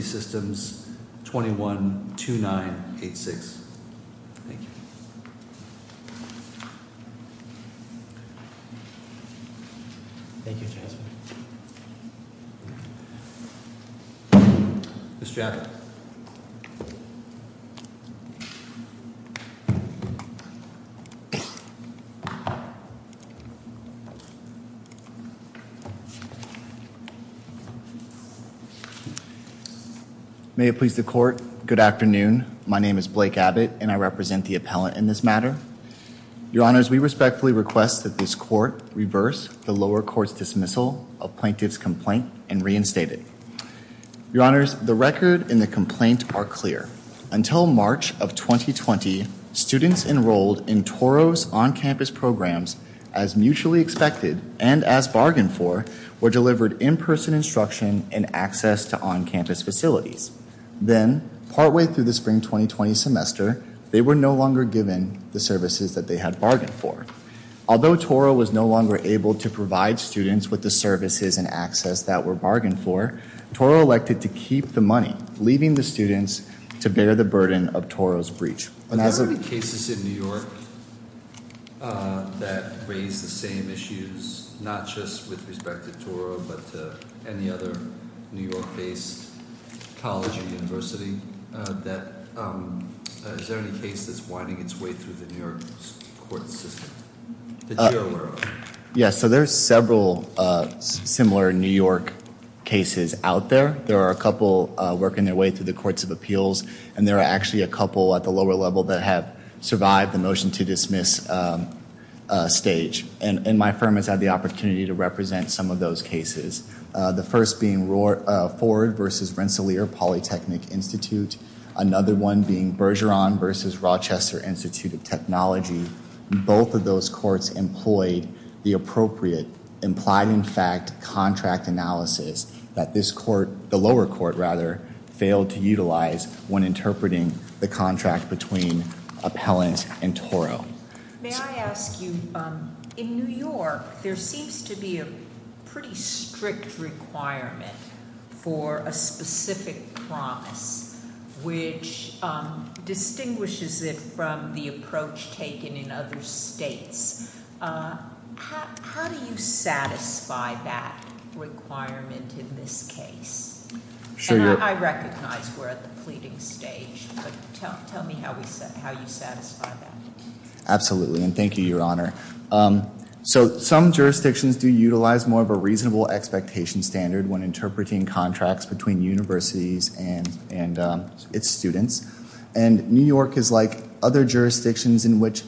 Systems, 21-2986. Thank you. Mr. Abbott. May it please the court. Good afternoon. My name is Blake Abbott and I represent the appellant in this matter. Your honors, we respectfully request that this court reverse the lower court's dismissal of plaintiff's complaint and reinstate it. Your honors, the record and the complaint are clear. Until March of 2020, students enrolled in Touro's on-campus programs, as mutually expected and as bargained for, were delivered in-person instruction and access to on-campus facilities. Then, partway through the spring 2020 semester, they were no longer given the services that they had bargained for. Although Touro was no longer able to provide students with the services and access that were bargained for, Touro elected to keep the money, leaving the students to bear the burden of Touro's breach. Are there any cases in New York that raise the same issues, not just with respect to Touro, but to any other New York-based college or university? Is there any case that's winding its way through the New York court system that you're aware of? Yes, so there's several similar New York cases out there. There are a couple working their way through the courts of appeals, and there are actually a couple at the lower level that have survived the motion to dismiss stage. And my firm has had the opportunity to represent some of those cases, the first being Ford v. Rensselaer Polytechnic Institute, another one being Bergeron v. Rochester Institute of Technology. Both of those courts employed the appropriate, implied-in-fact contract analysis that this court, the lower court rather, failed to utilize when interpreting the contract between appellant and Touro. May I ask you, in New York, there seems to be a pretty strict requirement for a specific promise, which distinguishes it from the approach taken in other states. How do you satisfy that requirement in this case? And I recognize we're at the pleading stage, but tell me how you satisfy that. Absolutely, and thank you, Your Honor. So some jurisdictions do utilize more of a reasonable expectation standard when interpreting contracts between universities and its students. And New York is like other jurisdictions in which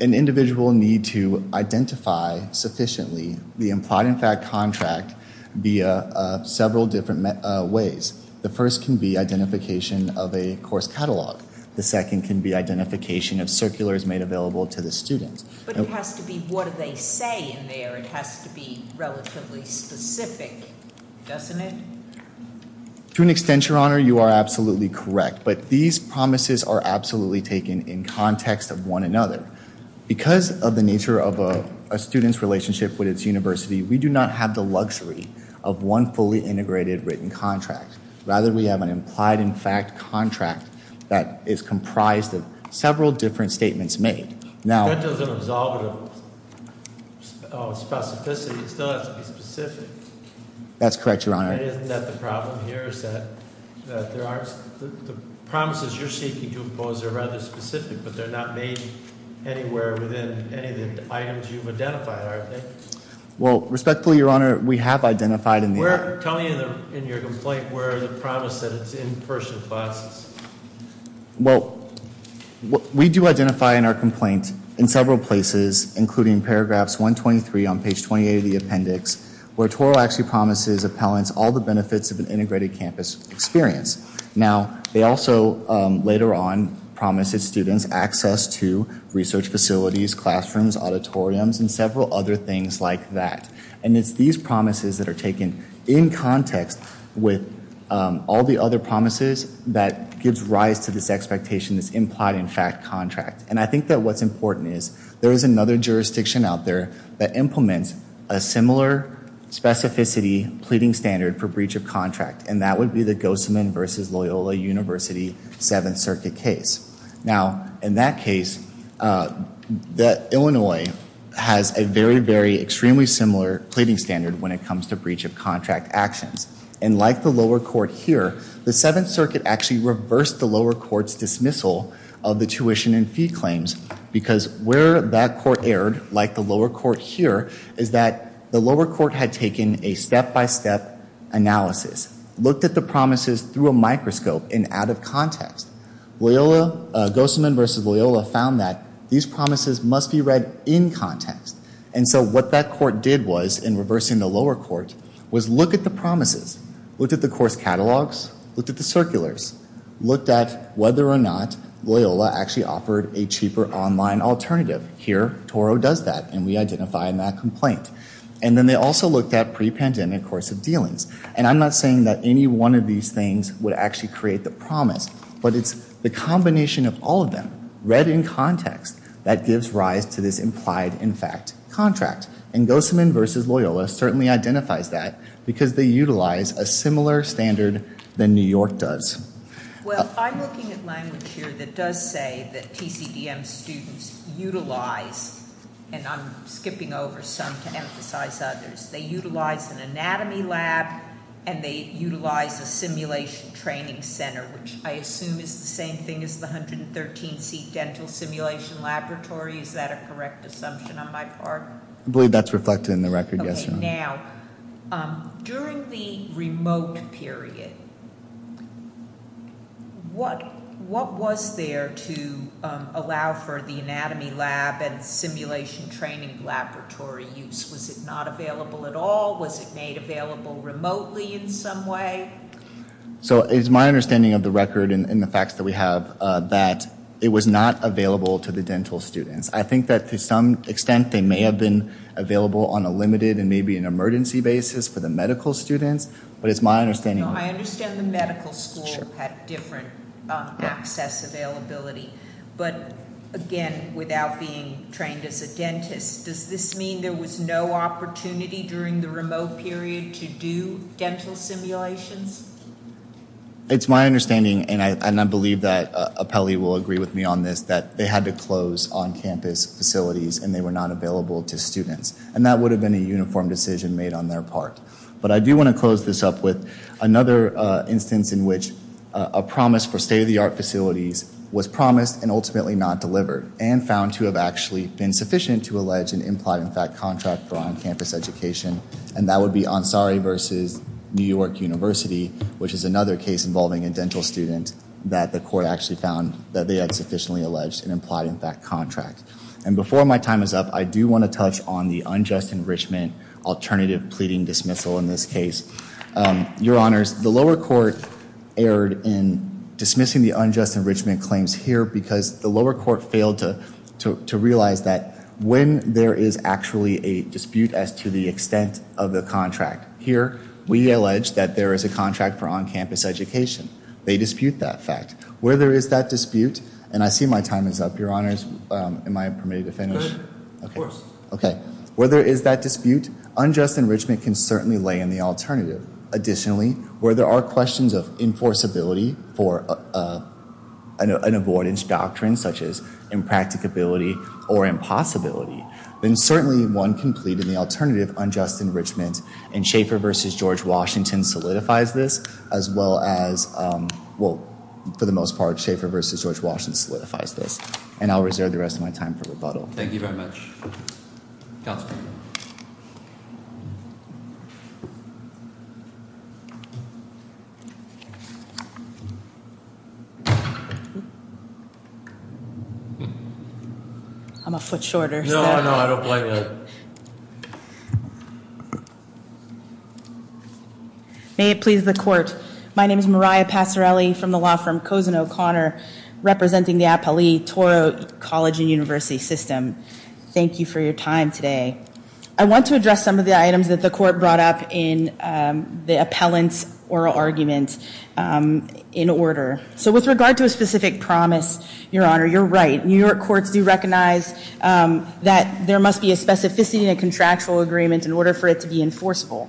an individual need to identify sufficiently the implied-in-fact contract via several different ways. The first can be identification of a course catalog. The second can be identification of circulars made available to the student. But it has to be what do they say in there? It has to be relatively specific, doesn't it? To an extent, Your Honor, you are absolutely correct, but these promises are absolutely taken in context of one another. Because of the nature of a student's relationship with its university, we do not have the luxury of one fully integrated written contract. Rather, we have an implied-in-fact contract that is comprised of several different statements made. That doesn't absolve it of specificity. It still has to be specific. That's correct, Your Honor. And isn't that the problem here, is that the promises you're seeking to impose are rather specific, but they're not made anywhere within any of the items you've identified, are they? Well, respectfully, Your Honor, we have identified in the- Tell me in your complaint where the promise that it's in person classes. Well, we do identify in our complaint in several places, including paragraphs 123 on page 28 of the appendix, where Toro actually promises appellants all the benefits of an integrated campus experience. Now, they also, later on, promise its students access to research facilities, classrooms, auditoriums, and several other things like that. And it's these promises that are taken in context with all the other promises that gives rise to this expectation, this implied-in-fact contract. And I think that what's important is there is another jurisdiction out there that implements a similar specificity pleading standard for breach of contract, and that would be the Gozeman v. Loyola University Seventh Circuit case. Now, in that case, Illinois has a very, very extremely similar pleading standard when it comes to breach of contract actions. And like the lower court here, the Seventh Circuit actually reversed the lower court's dismissal of the tuition and fee claims because where that court erred, like the lower court here, is that the lower court had taken a step-by-step analysis, looked at the promises through a microscope and out of context. Loyola, Gozeman v. Loyola, found that these promises must be read in context. And so what that court did was, in reversing the lower court, was look at the promises, looked at the course catalogs, looked at the circulars, looked at whether or not Loyola actually offered a cheaper online alternative. Here, Toro does that, and we identify in that complaint. And then they also looked at pre-pandemic course of dealings. And I'm not saying that any one of these things would actually create the promise, but it's the combination of all of them read in context that gives rise to this implied-in-fact contract. And Gozeman v. Loyola certainly identifies that because they utilize a similar standard than New York does. Well, I'm looking at language here that does say that TCDM students utilize, and I'm skipping over some to emphasize others, they utilize an anatomy lab and they utilize a simulation training center, which I assume is the same thing as the 113-seat dental simulation laboratory. Is that a correct assumption on my part? I believe that's reflected in the record, yes, ma'am. Okay, now, during the remote period, what was there to allow for the anatomy lab and simulation training laboratory use? Was it not available at all? Was it made available remotely in some way? So it's my understanding of the record and the facts that we have that it was not available to the dental students. I think that to some extent they may have been available on a limited and maybe an emergency basis for the medical students, but it's my understanding. I understand the medical school had different access availability, does this mean there was no opportunity during the remote period to do dental simulations? It's my understanding, and I believe that Apelli will agree with me on this, that they had to close on-campus facilities and they were not available to students, and that would have been a uniform decision made on their part. But I do want to close this up with another instance in which a promise for state-of-the-art facilities was promised and ultimately not delivered and found to have actually been sufficient to allege an implied-in-fact contract for on-campus education, and that would be Ansari versus New York University, which is another case involving a dental student that the court actually found that they had sufficiently alleged an implied-in-fact contract. And before my time is up, I do want to touch on the unjust enrichment alternative pleading dismissal in this case. Your Honors, the lower court erred in dismissing the unjust enrichment claims here because the lower court failed to realize that when there is actually a dispute as to the extent of the contract here, we allege that there is a contract for on-campus education. They dispute that fact. Where there is that dispute, and I see my time is up, Your Honors, am I permitted to finish? Good, of course. Okay, where there is that dispute, unjust enrichment can certainly lay in the alternative. Additionally, where there are questions of enforceability for an avoidance doctrine, such as impracticability or impossibility, then certainly one can plead in the alternative unjust enrichment, and Schaeffer versus George Washington solidifies this as well as, well, for the most part, Schaeffer versus George Washington solidifies this, and I'll reserve the rest of my time for rebuttal. Thank you very much. Counsel. I'm a foot shorter. No, no, I don't blame you. May it please the court. My name is Mariah Passarelli from the law firm Cosen O'Connor, representing the Apolli Toro College and University System. Thank you for your time today. I want to address some of the items that the court brought up in the appellant's oral argument in order. So with regard to a specific promise, Your Honor, you're right. New York courts do recognize that there must be a specificity in a contractual agreement in order for it to be enforceable.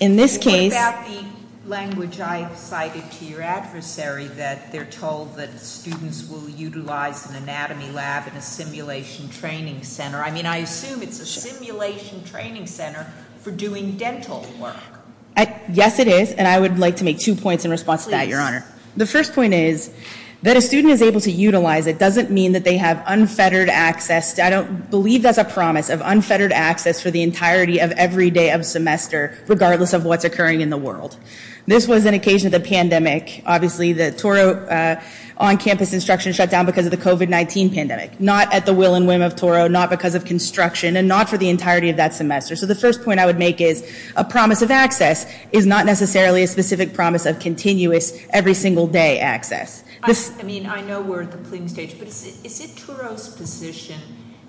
What about the language I cited to your adversary that they're told that students will utilize an anatomy lab in a simulation training center? I mean, I assume it's a simulation training center for doing dental work. Yes, it is, and I would like to make two points in response to that, Your Honor. Please. The first point is that a student is able to utilize it doesn't mean that they have unfettered access. I don't believe that's a promise of unfettered access for the entirety of every day of semester, regardless of what's occurring in the world. This was an occasion of the pandemic. Obviously, the Toro on-campus instruction shut down because of the COVID-19 pandemic. Not at the will and whim of Toro, not because of construction, and not for the entirety of that semester. So the first point I would make is a promise of access is not necessarily a specific promise of continuous every single day access. I mean, I know we're at the pleading stage, but is it Toro's position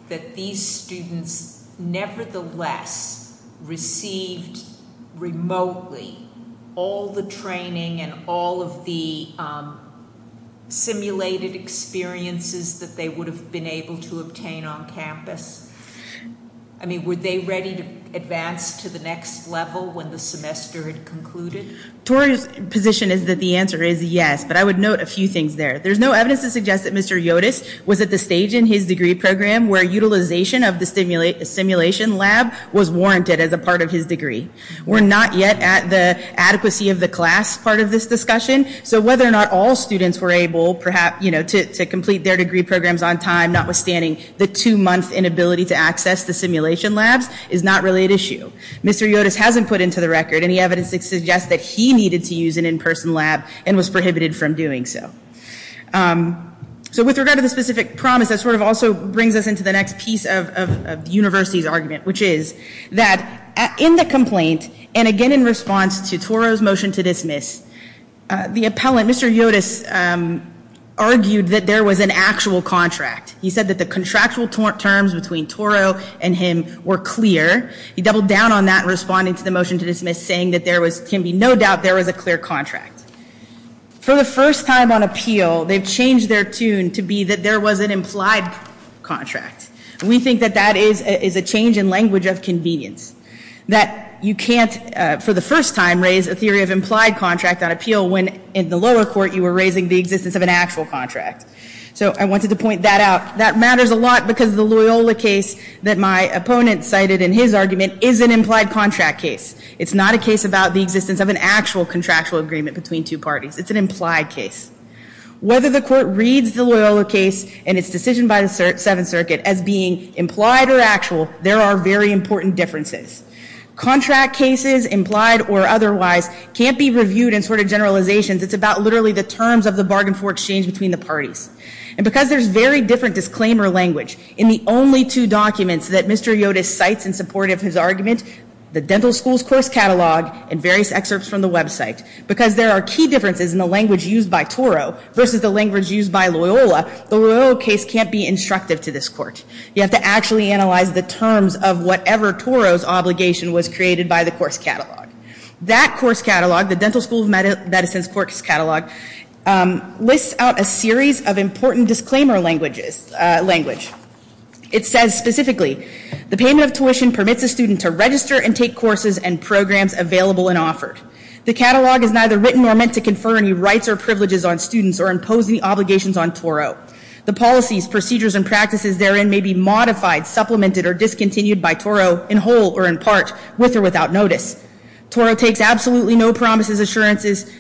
that these students nevertheless received remotely all the training and all of the simulated experiences that they would have been able to obtain on campus? I mean, were they ready to advance to the next level when the semester had concluded? Toro's position is that the answer is yes, but I would note a few things there. There's no evidence to suggest that Mr. Yotis was at the stage in his degree program where utilization of the simulation lab was warranted as a part of his degree. We're not yet at the adequacy of the class part of this discussion, so whether or not all students were able to complete their degree programs on time, notwithstanding the two-month inability to access the simulation labs, is not really at issue. Mr. Yotis hasn't put into the record any evidence to suggest that he needed to use an in-person lab and was prohibited from doing so. So with regard to the specific promise, that sort of also brings us into the next piece of the university's argument, which is that in the complaint, and again in response to Toro's motion to dismiss, the appellant, Mr. Yotis, argued that there was an actual contract. He said that the contractual terms between Toro and him were clear. He doubled down on that in responding to the motion to dismiss, saying that there can be no doubt there was a clear contract. For the first time on appeal, they've changed their tune to be that there was an implied contract. We think that that is a change in language of convenience, that you can't, for the first time, raise a theory of implied contract on appeal when in the lower court you were raising the existence of an actual contract. So I wanted to point that out. That matters a lot because the Loyola case that my opponent cited in his argument is an implied contract case. It's not a case about the existence of an actual contractual agreement between two parties. It's an implied case. Whether the court reads the Loyola case and its decision by the Seventh Circuit as being implied or actual, there are very important differences. Contract cases, implied or otherwise, can't be reviewed in sort of generalizations. It's about literally the terms of the bargain for exchange between the parties. And because there's very different disclaimer language in the only two documents that Mr. Yotis cites in support of his argument, the dental school's course catalog and various excerpts from the website, because there are key differences in the language used by Toro versus the language used by Loyola, the Loyola case can't be instructive to this court. You have to actually analyze the terms of whatever Toro's obligation was created by the course catalog. That course catalog, the Dental School of Medicine's course catalog, lists out a series of important disclaimer language. It says specifically, the payment of tuition permits a student to register and take courses and programs available and offered. The catalog is neither written nor meant to confer any rights or privileges on students or impose any obligations on Toro. The policies, procedures, and practices therein may be modified, supplemented, or discontinued by Toro in whole or in part, with or without notice. Toro takes absolutely no promises, assurances,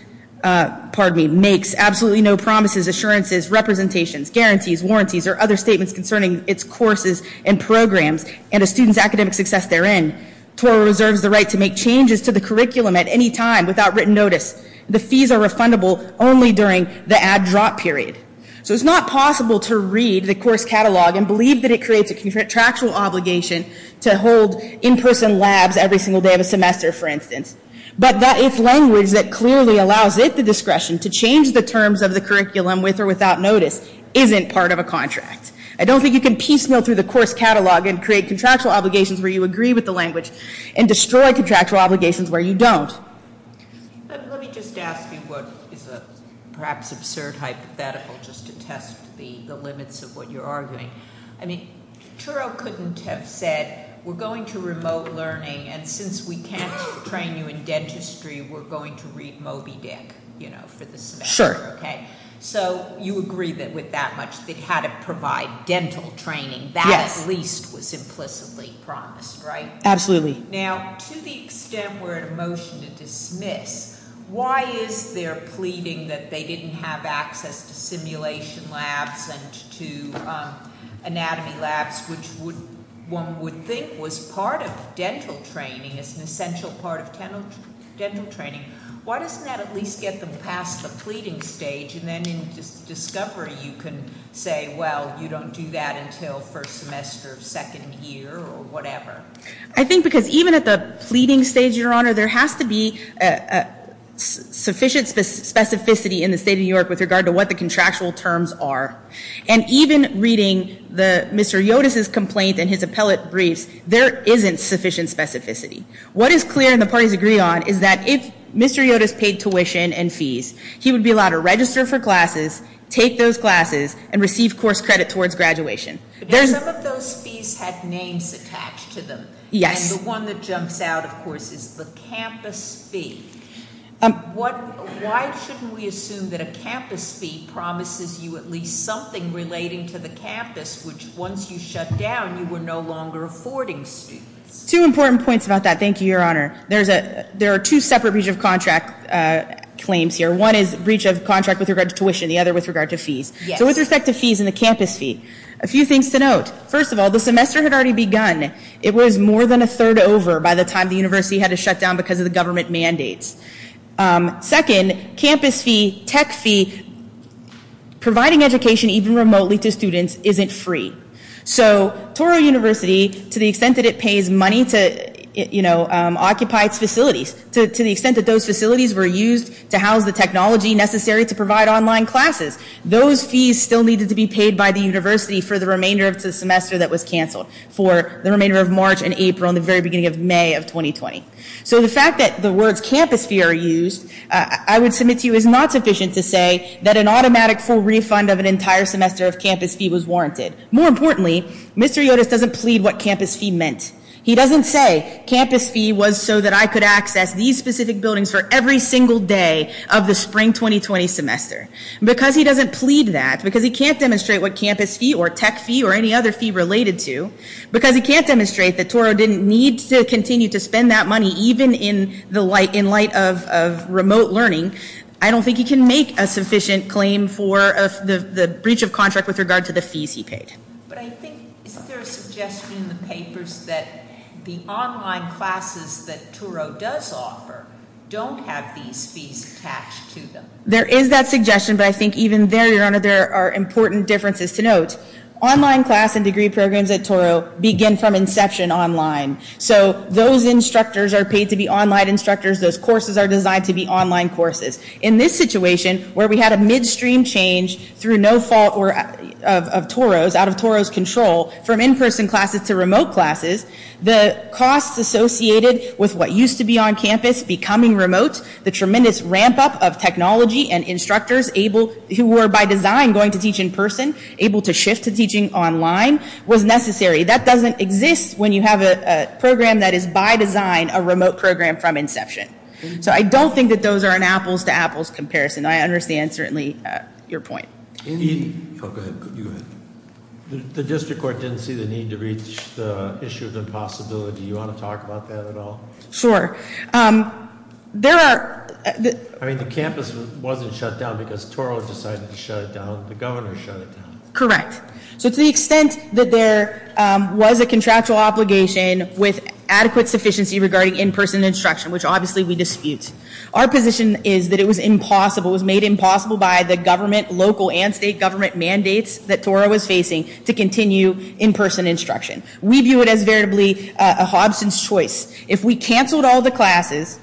representations, guarantees, warranties, or other statements concerning its courses and programs and a student's academic success therein. Toro reserves the right to make changes to the curriculum at any time without written notice. The fees are refundable only during the add-drop period. So it's not possible to read the course catalog and believe that it creates a contractual obligation to hold in-person labs every single day of a semester, for instance. But that if language that clearly allows it the discretion to change the terms of the curriculum with or without notice isn't part of a contract. I don't think you can piecemeal through the course catalog and create contractual obligations where you agree with the language and destroy contractual obligations where you don't. Let me just ask you what is a perhaps absurd hypothetical just to test the limits of what you're arguing. I mean, Toro couldn't have said, we're going to remote learning, and since we can't train you in dentistry, we're going to read Moby Dick, you know, for the semester. Sure. Okay? So you agree that with that much, they had to provide dental training. Yes. That at least was implicitly promised, right? Absolutely. Now, to the extent we're at a motion to dismiss, why is there pleading that they didn't have access to simulation labs and to anatomy labs, which one would think was part of dental training, is an essential part of dental training? Why doesn't that at least get them past the pleading stage, and then in discovery you can say, well, you don't do that until first semester of second year or whatever? I think because even at the pleading stage, Your Honor, there has to be sufficient specificity in the state of New York with regard to what the contractual terms are. And even reading Mr. Yotis' complaint in his appellate briefs, there isn't sufficient specificity. What is clear and the parties agree on is that if Mr. Yotis paid tuition and fees, he would be allowed to register for classes, take those classes, and receive course credit towards graduation. Some of those fees had names attached to them. Yes. And the one that jumps out, of course, is the campus fee. Why shouldn't we assume that a campus fee promises you at least something relating to the campus, which once you shut down, you were no longer affording students? Two important points about that. Thank you, Your Honor. There are two separate breach of contract claims here. One is breach of contract with regard to tuition. The other with regard to fees. Yes. So with respect to fees and the campus fee, a few things to note. First of all, the semester had already begun. It was more than a third over by the time the university had to shut down because of the government mandates. Second, campus fee, tech fee, providing education even remotely to students isn't free. So Toro University, to the extent that it pays money to, you know, occupy its facilities, to the extent that those facilities were used to house the technology necessary to provide online classes, those fees still needed to be paid by the university for the remainder of the semester that was canceled, for the remainder of March and April and the very beginning of May of 2020. So the fact that the words campus fee are used, I would submit to you, is not sufficient to say that an automatic full refund of an entire semester of campus fee was warranted. More importantly, Mr. Yotis doesn't plead what campus fee meant. He doesn't say campus fee was so that I could access these specific buildings for every single day of the spring 2020 semester. Because he doesn't plead that, because he can't demonstrate what campus fee or tech fee or any other fee related to, because he can't demonstrate that Toro didn't need to continue to spend that money even in light of remote learning, I don't think he can make a sufficient claim for the breach of contract with regard to the fees he paid. But I think, isn't there a suggestion in the papers that the online classes that Toro does offer don't have these fees attached to them? There is that suggestion, but I think even there, your honor, there are important differences to note. Online class and degree programs at Toro begin from inception online. So those instructors are paid to be online instructors. Those courses are designed to be online courses. In this situation, where we had a midstream change through no fault of Toro's, out of Toro's control, from in-person classes to remote classes, the costs associated with what used to be on campus becoming remote, the tremendous ramp up of technology and instructors who were by design going to teach in person, able to shift to teaching online, was necessary. That doesn't exist when you have a program that is by design a remote program from inception. So I don't think that those are an apples to apples comparison. I understand, certainly, your point. Go ahead. The district court didn't see the need to reach the issue of impossibility. Do you want to talk about that at all? Sure. There are- I mean, the campus wasn't shut down because Toro decided to shut it down. The governor shut it down. Correct. So to the extent that there was a contractual obligation with adequate sufficiency regarding in-person instruction, which obviously we dispute, our position is that it was impossible, it was made impossible by the government, local and state government mandates, that Toro was facing to continue in-person instruction. We view it as veritably a Hobson's choice. If we canceled all the classes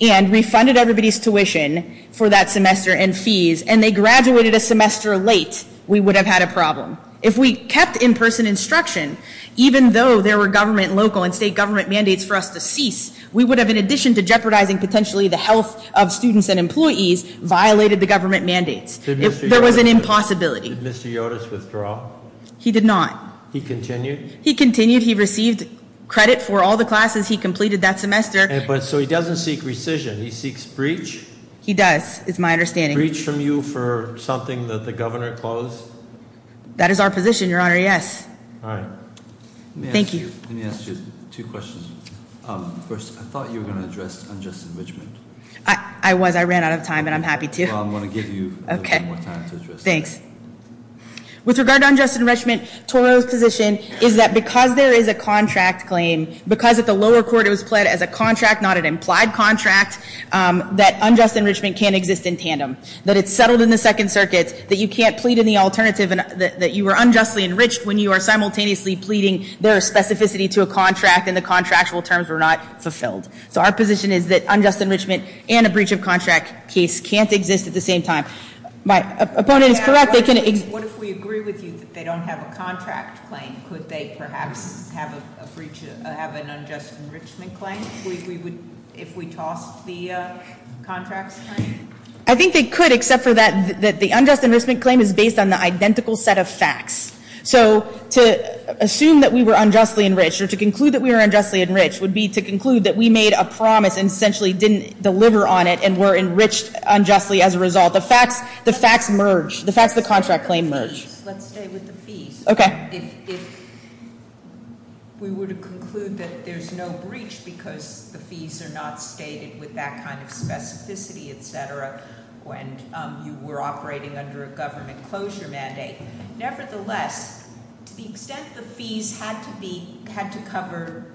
and refunded everybody's tuition for that semester and fees and they graduated a semester late, we would have had a problem. If we kept in-person instruction, even though there were government, local and state government mandates for us to cease, we would have, in addition to jeopardizing potentially the health of students and employees, violated the government mandates. There was an impossibility. Did Mr. Yodus withdraw? He did not. He continued? He continued. He received credit for all the classes he completed that semester. So he doesn't seek rescission. He seeks breach? He does, is my understanding. Breach from you for something that the governor closed? That is our position, Your Honor, yes. All right. Thank you. Let me ask you two questions. First, I thought you were going to address unjust enrichment. I was. I ran out of time and I'm happy to. Well, I'm going to give you a little bit more time to address that. Thanks. With regard to unjust enrichment, Toro's position is that because there is a contract claim, because at the lower court it was pled as a contract, not an implied contract, that unjust enrichment can't exist in tandem, that it's settled in the Second Circuit, that you can't plead in the alternative and that you were unjustly enriched when you are simultaneously pleading there is specificity to a contract and the contractual terms were not fulfilled. So our position is that unjust enrichment and a breach of contract case can't exist at the same time. My opponent is correct. What if we agree with you that they don't have a contract claim? Could they perhaps have an unjust enrichment claim if we tossed the contracts claim? I think they could except for that the unjust enrichment claim is based on the identical set of facts. So to assume that we were unjustly enriched or to conclude that we were unjustly enriched would be to conclude that we made a promise and essentially didn't deliver on it and were enriched unjustly as a result. The facts merge. The facts of the contract claim merge. Let's stay with the fees. Okay. If we were to conclude that there's no breach because the fees are not stated with that kind of specificity, etc., when you were operating under a government closure mandate. Nevertheless, to the extent the fees had to be, had to cover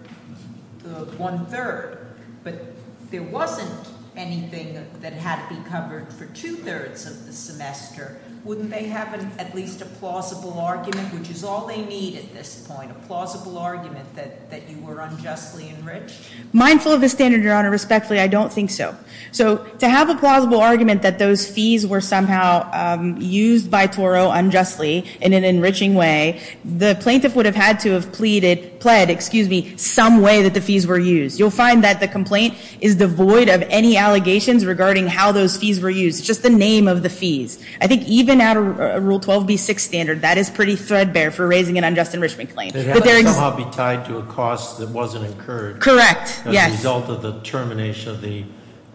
the one-third, but there wasn't anything that had to be covered for two-thirds of the semester, wouldn't they have at least a plausible argument, which is all they need at this point, a plausible argument that you were unjustly enriched? Mindful of the standard, Your Honor, respectfully, I don't think so. So to have a plausible argument that those fees were somehow used by Toro unjustly in an enriching way, the plaintiff would have had to have pleaded, pled, excuse me, some way that the fees were used. You'll find that the complaint is devoid of any allegations regarding how those fees were used. It's just the name of the fees. I think even at a Rule 12b-6 standard, that is pretty threadbare for raising an unjust enrichment claim. It had to somehow be tied to a cost that wasn't incurred. Correct, yes. As a result of the termination of the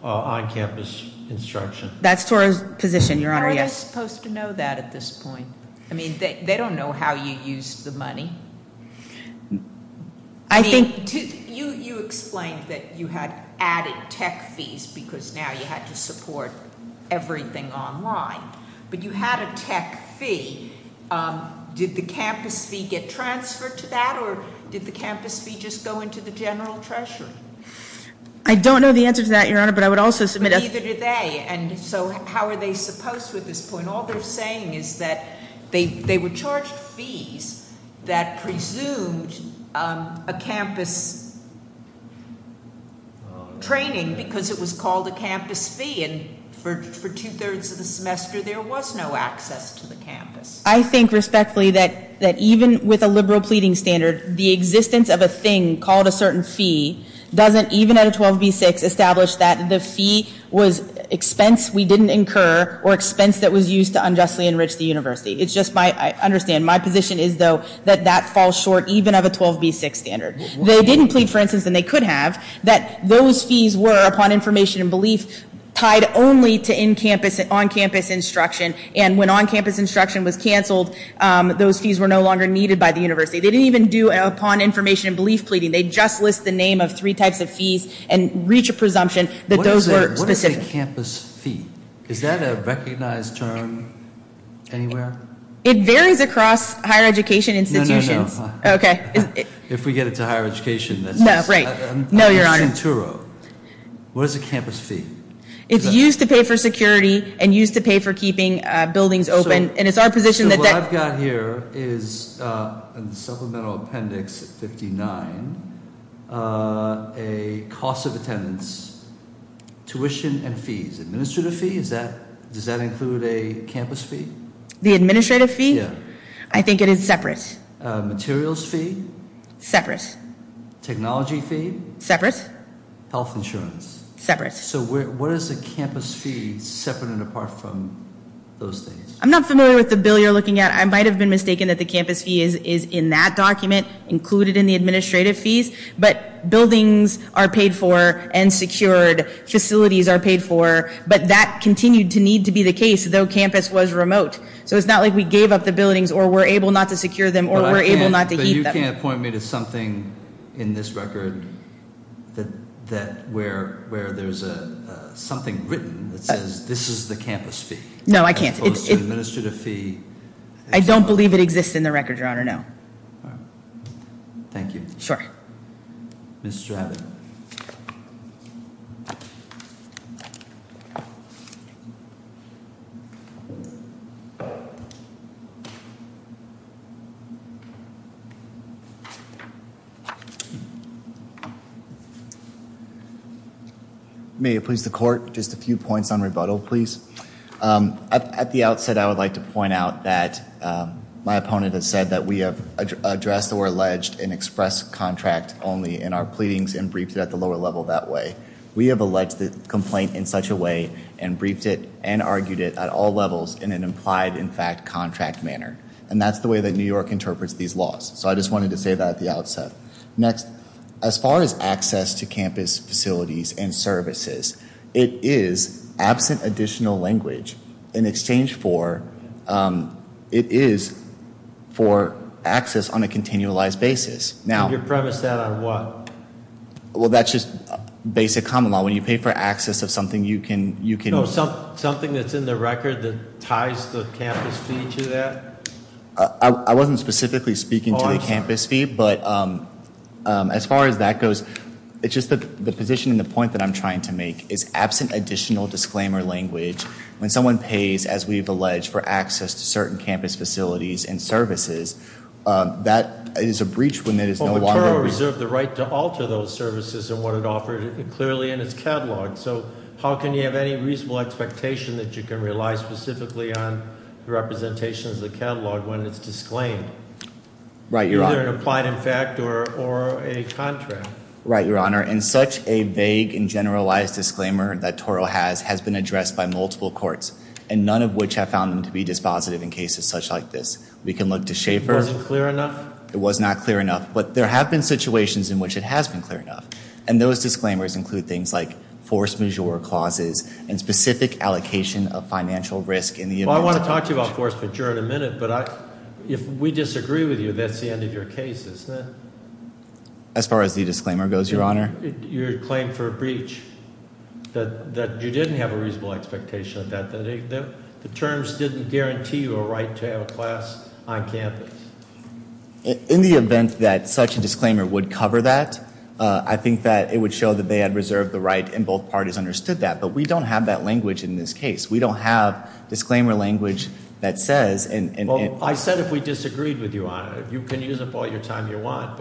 on-campus instruction. That's Toro's position, Your Honor, yes. How are they supposed to know that at this point? I mean, they don't know how you used the money. I think... You explained that you had added tech fees because now you had to support everything online. But you had a tech fee. Did the campus fee get transferred to that or did the campus fee just go into the general treasury? I don't know the answer to that, Your Honor, but I would also submit... But neither do they. And so how are they supposed to at this point? And all they're saying is that they were charged fees that presumed a campus training because it was called a campus fee. And for two-thirds of the semester, there was no access to the campus. I think respectfully that even with a liberal pleading standard, the existence of a thing called a certain fee doesn't, even at a 12B6, establish that the fee was expense we didn't incur or expense that was used to unjustly enrich the university. It's just my... I understand. My position is, though, that that falls short even of a 12B6 standard. They didn't plead, for instance, and they could have, that those fees were, upon information and belief, tied only to on-campus instruction. And when on-campus instruction was canceled, those fees were no longer needed by the university. They didn't even do, upon information and belief pleading. They just list the name of three types of fees and reach a presumption that those were specific. What is a campus fee? Is that a recognized term anywhere? It varies across higher education institutions. No, no, no. Okay. If we get it to higher education. No, right. No, Your Honor. I'm using Turo. What is a campus fee? It's used to pay for security and used to pay for keeping buildings open. And it's our position that that... In the supplemental appendix 59, a cost of attendance, tuition and fees. Administrative fee? Does that include a campus fee? The administrative fee? Yeah. I think it is separate. Materials fee? Separate. Technology fee? Separate. Health insurance? Separate. So what is a campus fee separate and apart from those things? I'm not familiar with the bill you're looking at. I might have been mistaken that the campus fee is in that document included in the administrative fees. But buildings are paid for and secured. Facilities are paid for. But that continued to need to be the case though campus was remote. So it's not like we gave up the buildings or were able not to secure them or were able not to keep them. But you can't point me to something in this record where there's something written that says this is the campus fee. No, I can't. I don't believe it exists in the record, Your Honor, no. Thank you. Ms. Stratton. May it please the court, just a few points on rebuttal, please. At the outset I would like to point out that my opponent has said that we have addressed or alleged an express contract only in our pleadings and briefed it at the lower level that way. We have alleged the complaint in such a way and briefed it and argued it at all levels in an implied, in fact, contract manner. And that's the way that New York interprets these laws. So I just wanted to say that at the outset. Next, as far as access to campus facilities and services, it is absent additional language in exchange for, it is for access on a continualized basis. And you premise that on what? Well, that's just basic common law. When you pay for access of something you can. No, something that's in the record that ties the campus fee to that? I wasn't specifically speaking to the campus fee, but as far as that goes, it's just that the position and the point that I'm trying to make is absent additional disclaimer language. When someone pays, as we've alleged, for access to certain campus facilities and services, that is a breach when there is no longer- Well, the toro reserved the right to alter those services and wanted to offer it clearly in its catalog. So how can you have any reasonable expectation that you can rely specifically on representations of the catalog when it's disclaimed? Right, Your Honor. Either an implied, in fact, or a contract. Right, Your Honor. And such a vague and generalized disclaimer that toro has has been addressed by multiple courts, and none of which have found them to be dispositive in cases such like this. We can look to Schaffer. It wasn't clear enough? It was not clear enough. But there have been situations in which it has been clear enough. And those disclaimers include things like force majeure clauses and specific allocation of financial risk in the event- Well, I want to talk to you about force majeure in a minute, but if we disagree with you, that's the end of your case, isn't it? As far as the disclaimer goes, Your Honor. Your claim for a breach, that you didn't have a reasonable expectation of that, that the terms didn't guarantee you a right to have a class on campus. In the event that such a disclaimer would cover that, I think that it would show that they had reserved the right and both parties understood that. But we don't have that language in this case. We don't have disclaimer language that says- Well, I said if we disagreed with you, Your Honor. You can use it all the time you want,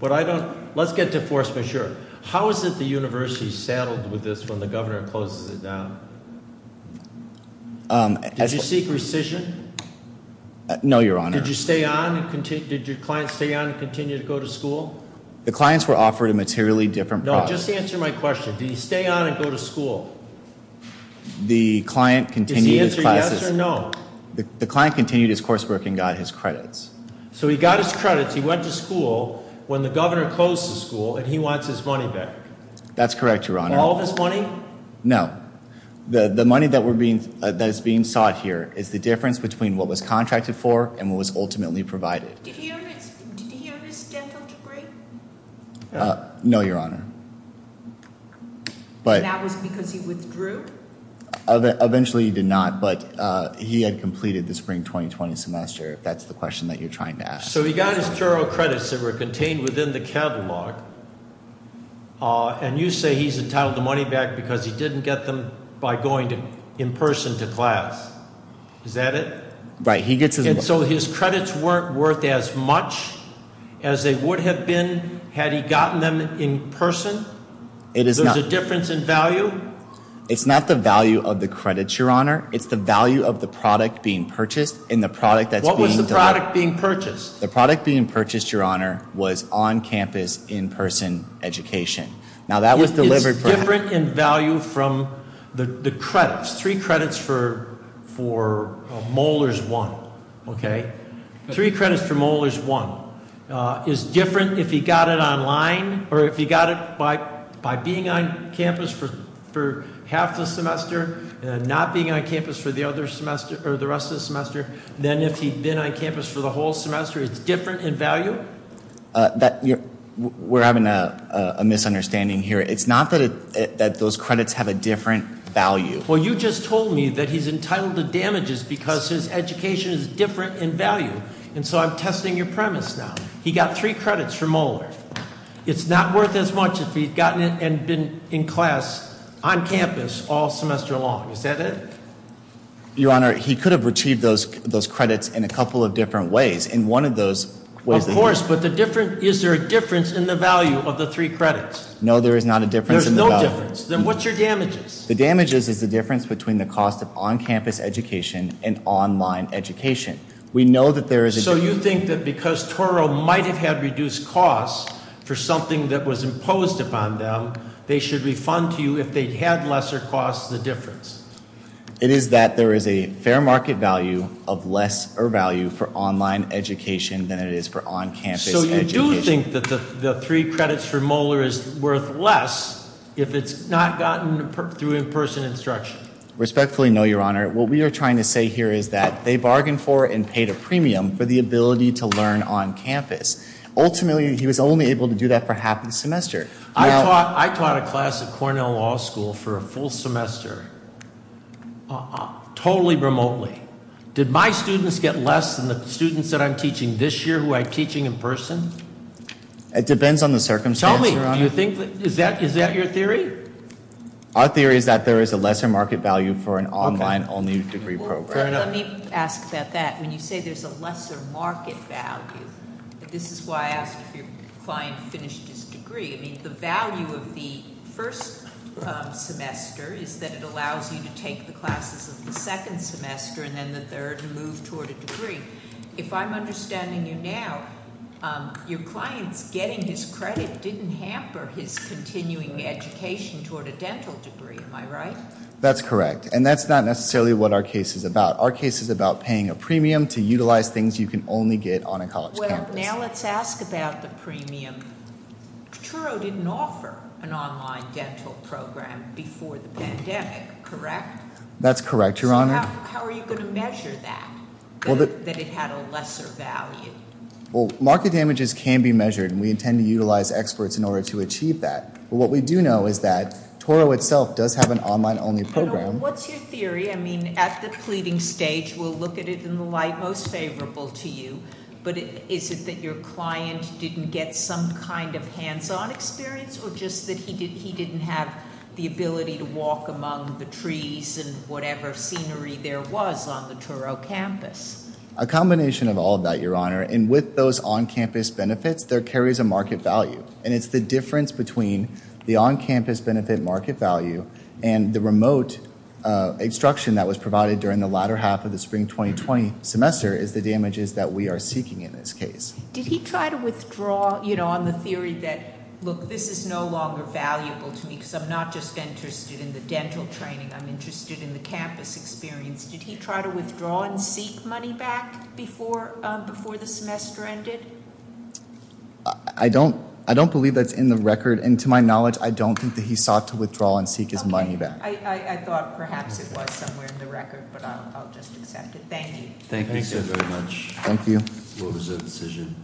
but I don't- Let's get to force majeure. How is it the university saddled with this when the governor closes it down? Did you seek rescission? No, Your Honor. Did your client stay on and continue to go to school? The clients were offered a materially different price. No, just answer my question. Did he stay on and go to school? The client continued his classes- Did he answer yes or no? The client continued his coursework and got his credits. So he got his credits, he went to school when the governor closed the school, and he wants his money back. That's correct, Your Honor. All of his money? No. The money that is being sought here is the difference between what was contracted for and what was ultimately provided. Did he earn his dental degree? No, Your Honor. And that was because he withdrew? Eventually he did not, but he had completed the spring 2020 semester, if that's the question that you're trying to ask. So he got his general credits that were contained within the catalog, and you say he's entitled to money back because he didn't get them by going in person to class. Is that it? Right. So his credits weren't worth as much as they would have been had he gotten them in person? There's a difference in value? It's not the value of the credits, Your Honor. It's the value of the product being purchased. What was the product being purchased? The product being purchased, Your Honor, was on-campus, in-person education. Now, that was delivered- It's different in value from the credits, three credits for molars one, okay? Three credits for molars one. It's different if he got it online, or if he got it by being on campus for half the semester, and not being on campus for the rest of the semester, than if he'd been on campus for the whole semester. It's different in value? We're having a misunderstanding here. It's not that those credits have a different value. Well, you just told me that he's entitled to damages because his education is different in value. And so I'm testing your premise now. He got three credits for molars. It's not worth as much if he'd gotten it and been in class on campus all semester long. Is that it? Your Honor, he could have retrieved those credits in a couple of different ways. In one of those ways- Of course, but is there a difference in the value of the three credits? No, there is not a difference in the value. There's no difference. Then what's your damages? The damages is the difference between the cost of on-campus education and online education. So you think that because Toro might have had reduced costs for something that was imposed upon them, they should refund to you if they'd had lesser costs, the difference? It is that there is a fair market value of less value for online education than it is for on-campus education. So you do think that the three credits for molar is worth less if it's not gotten through in-person instruction? Respectfully, no, Your Honor. What we are trying to say here is that they bargained for and paid a premium for the ability to learn on campus. Ultimately, he was only able to do that for half the semester. I taught a class at Cornell Law School for a full semester totally remotely. Did my students get less than the students that I'm teaching this year who I'm teaching in person? It depends on the circumstance, Your Honor. Tell me, is that your theory? Our theory is that there is a lesser market value for an online only degree program. Let me ask about that. When you say there's a lesser market value, this is why I asked if your client finished his degree. I mean, the value of the first semester is that it allows you to take the classes of the second semester and then the third and move toward a degree. If I'm understanding you now, your client's getting his credit didn't hamper his continuing education toward a dental degree. Am I right? That's correct. And that's not necessarily what our case is about. Our case is about paying a premium to utilize things you can only get on a college campus. Well, now let's ask about the premium. Truro didn't offer an online dental program before the pandemic, correct? That's correct, Your Honor. How are you going to measure that, that it had a lesser value? Well, market damages can be measured, and we intend to utilize experts in order to achieve that. But what we do know is that Truro itself does have an online only program. What's your theory? I mean, at the pleading stage, we'll look at it in the light most favorable to you. But is it that your client didn't get some kind of hands-on experience or just that he didn't have the ability to walk among the trees and whatever scenery there was on the Truro campus? A combination of all of that, Your Honor. And with those on-campus benefits, there carries a market value. And it's the difference between the on-campus benefit market value and the remote instruction that was provided during the latter half of the spring 2020 semester is the damages that we are seeking in this case. Did he try to withdraw, you know, on the theory that, look, this is no longer valuable to me because I'm not just interested in the dental training. I'm interested in the campus experience. Did he try to withdraw and seek money back before the semester ended? I don't believe that's in the record. And to my knowledge, I don't think that he sought to withdraw and seek his money back. I thought perhaps it was somewhere in the record, but I'll just accept it. Thank you. Thank you very much. Thank you. What was the decision?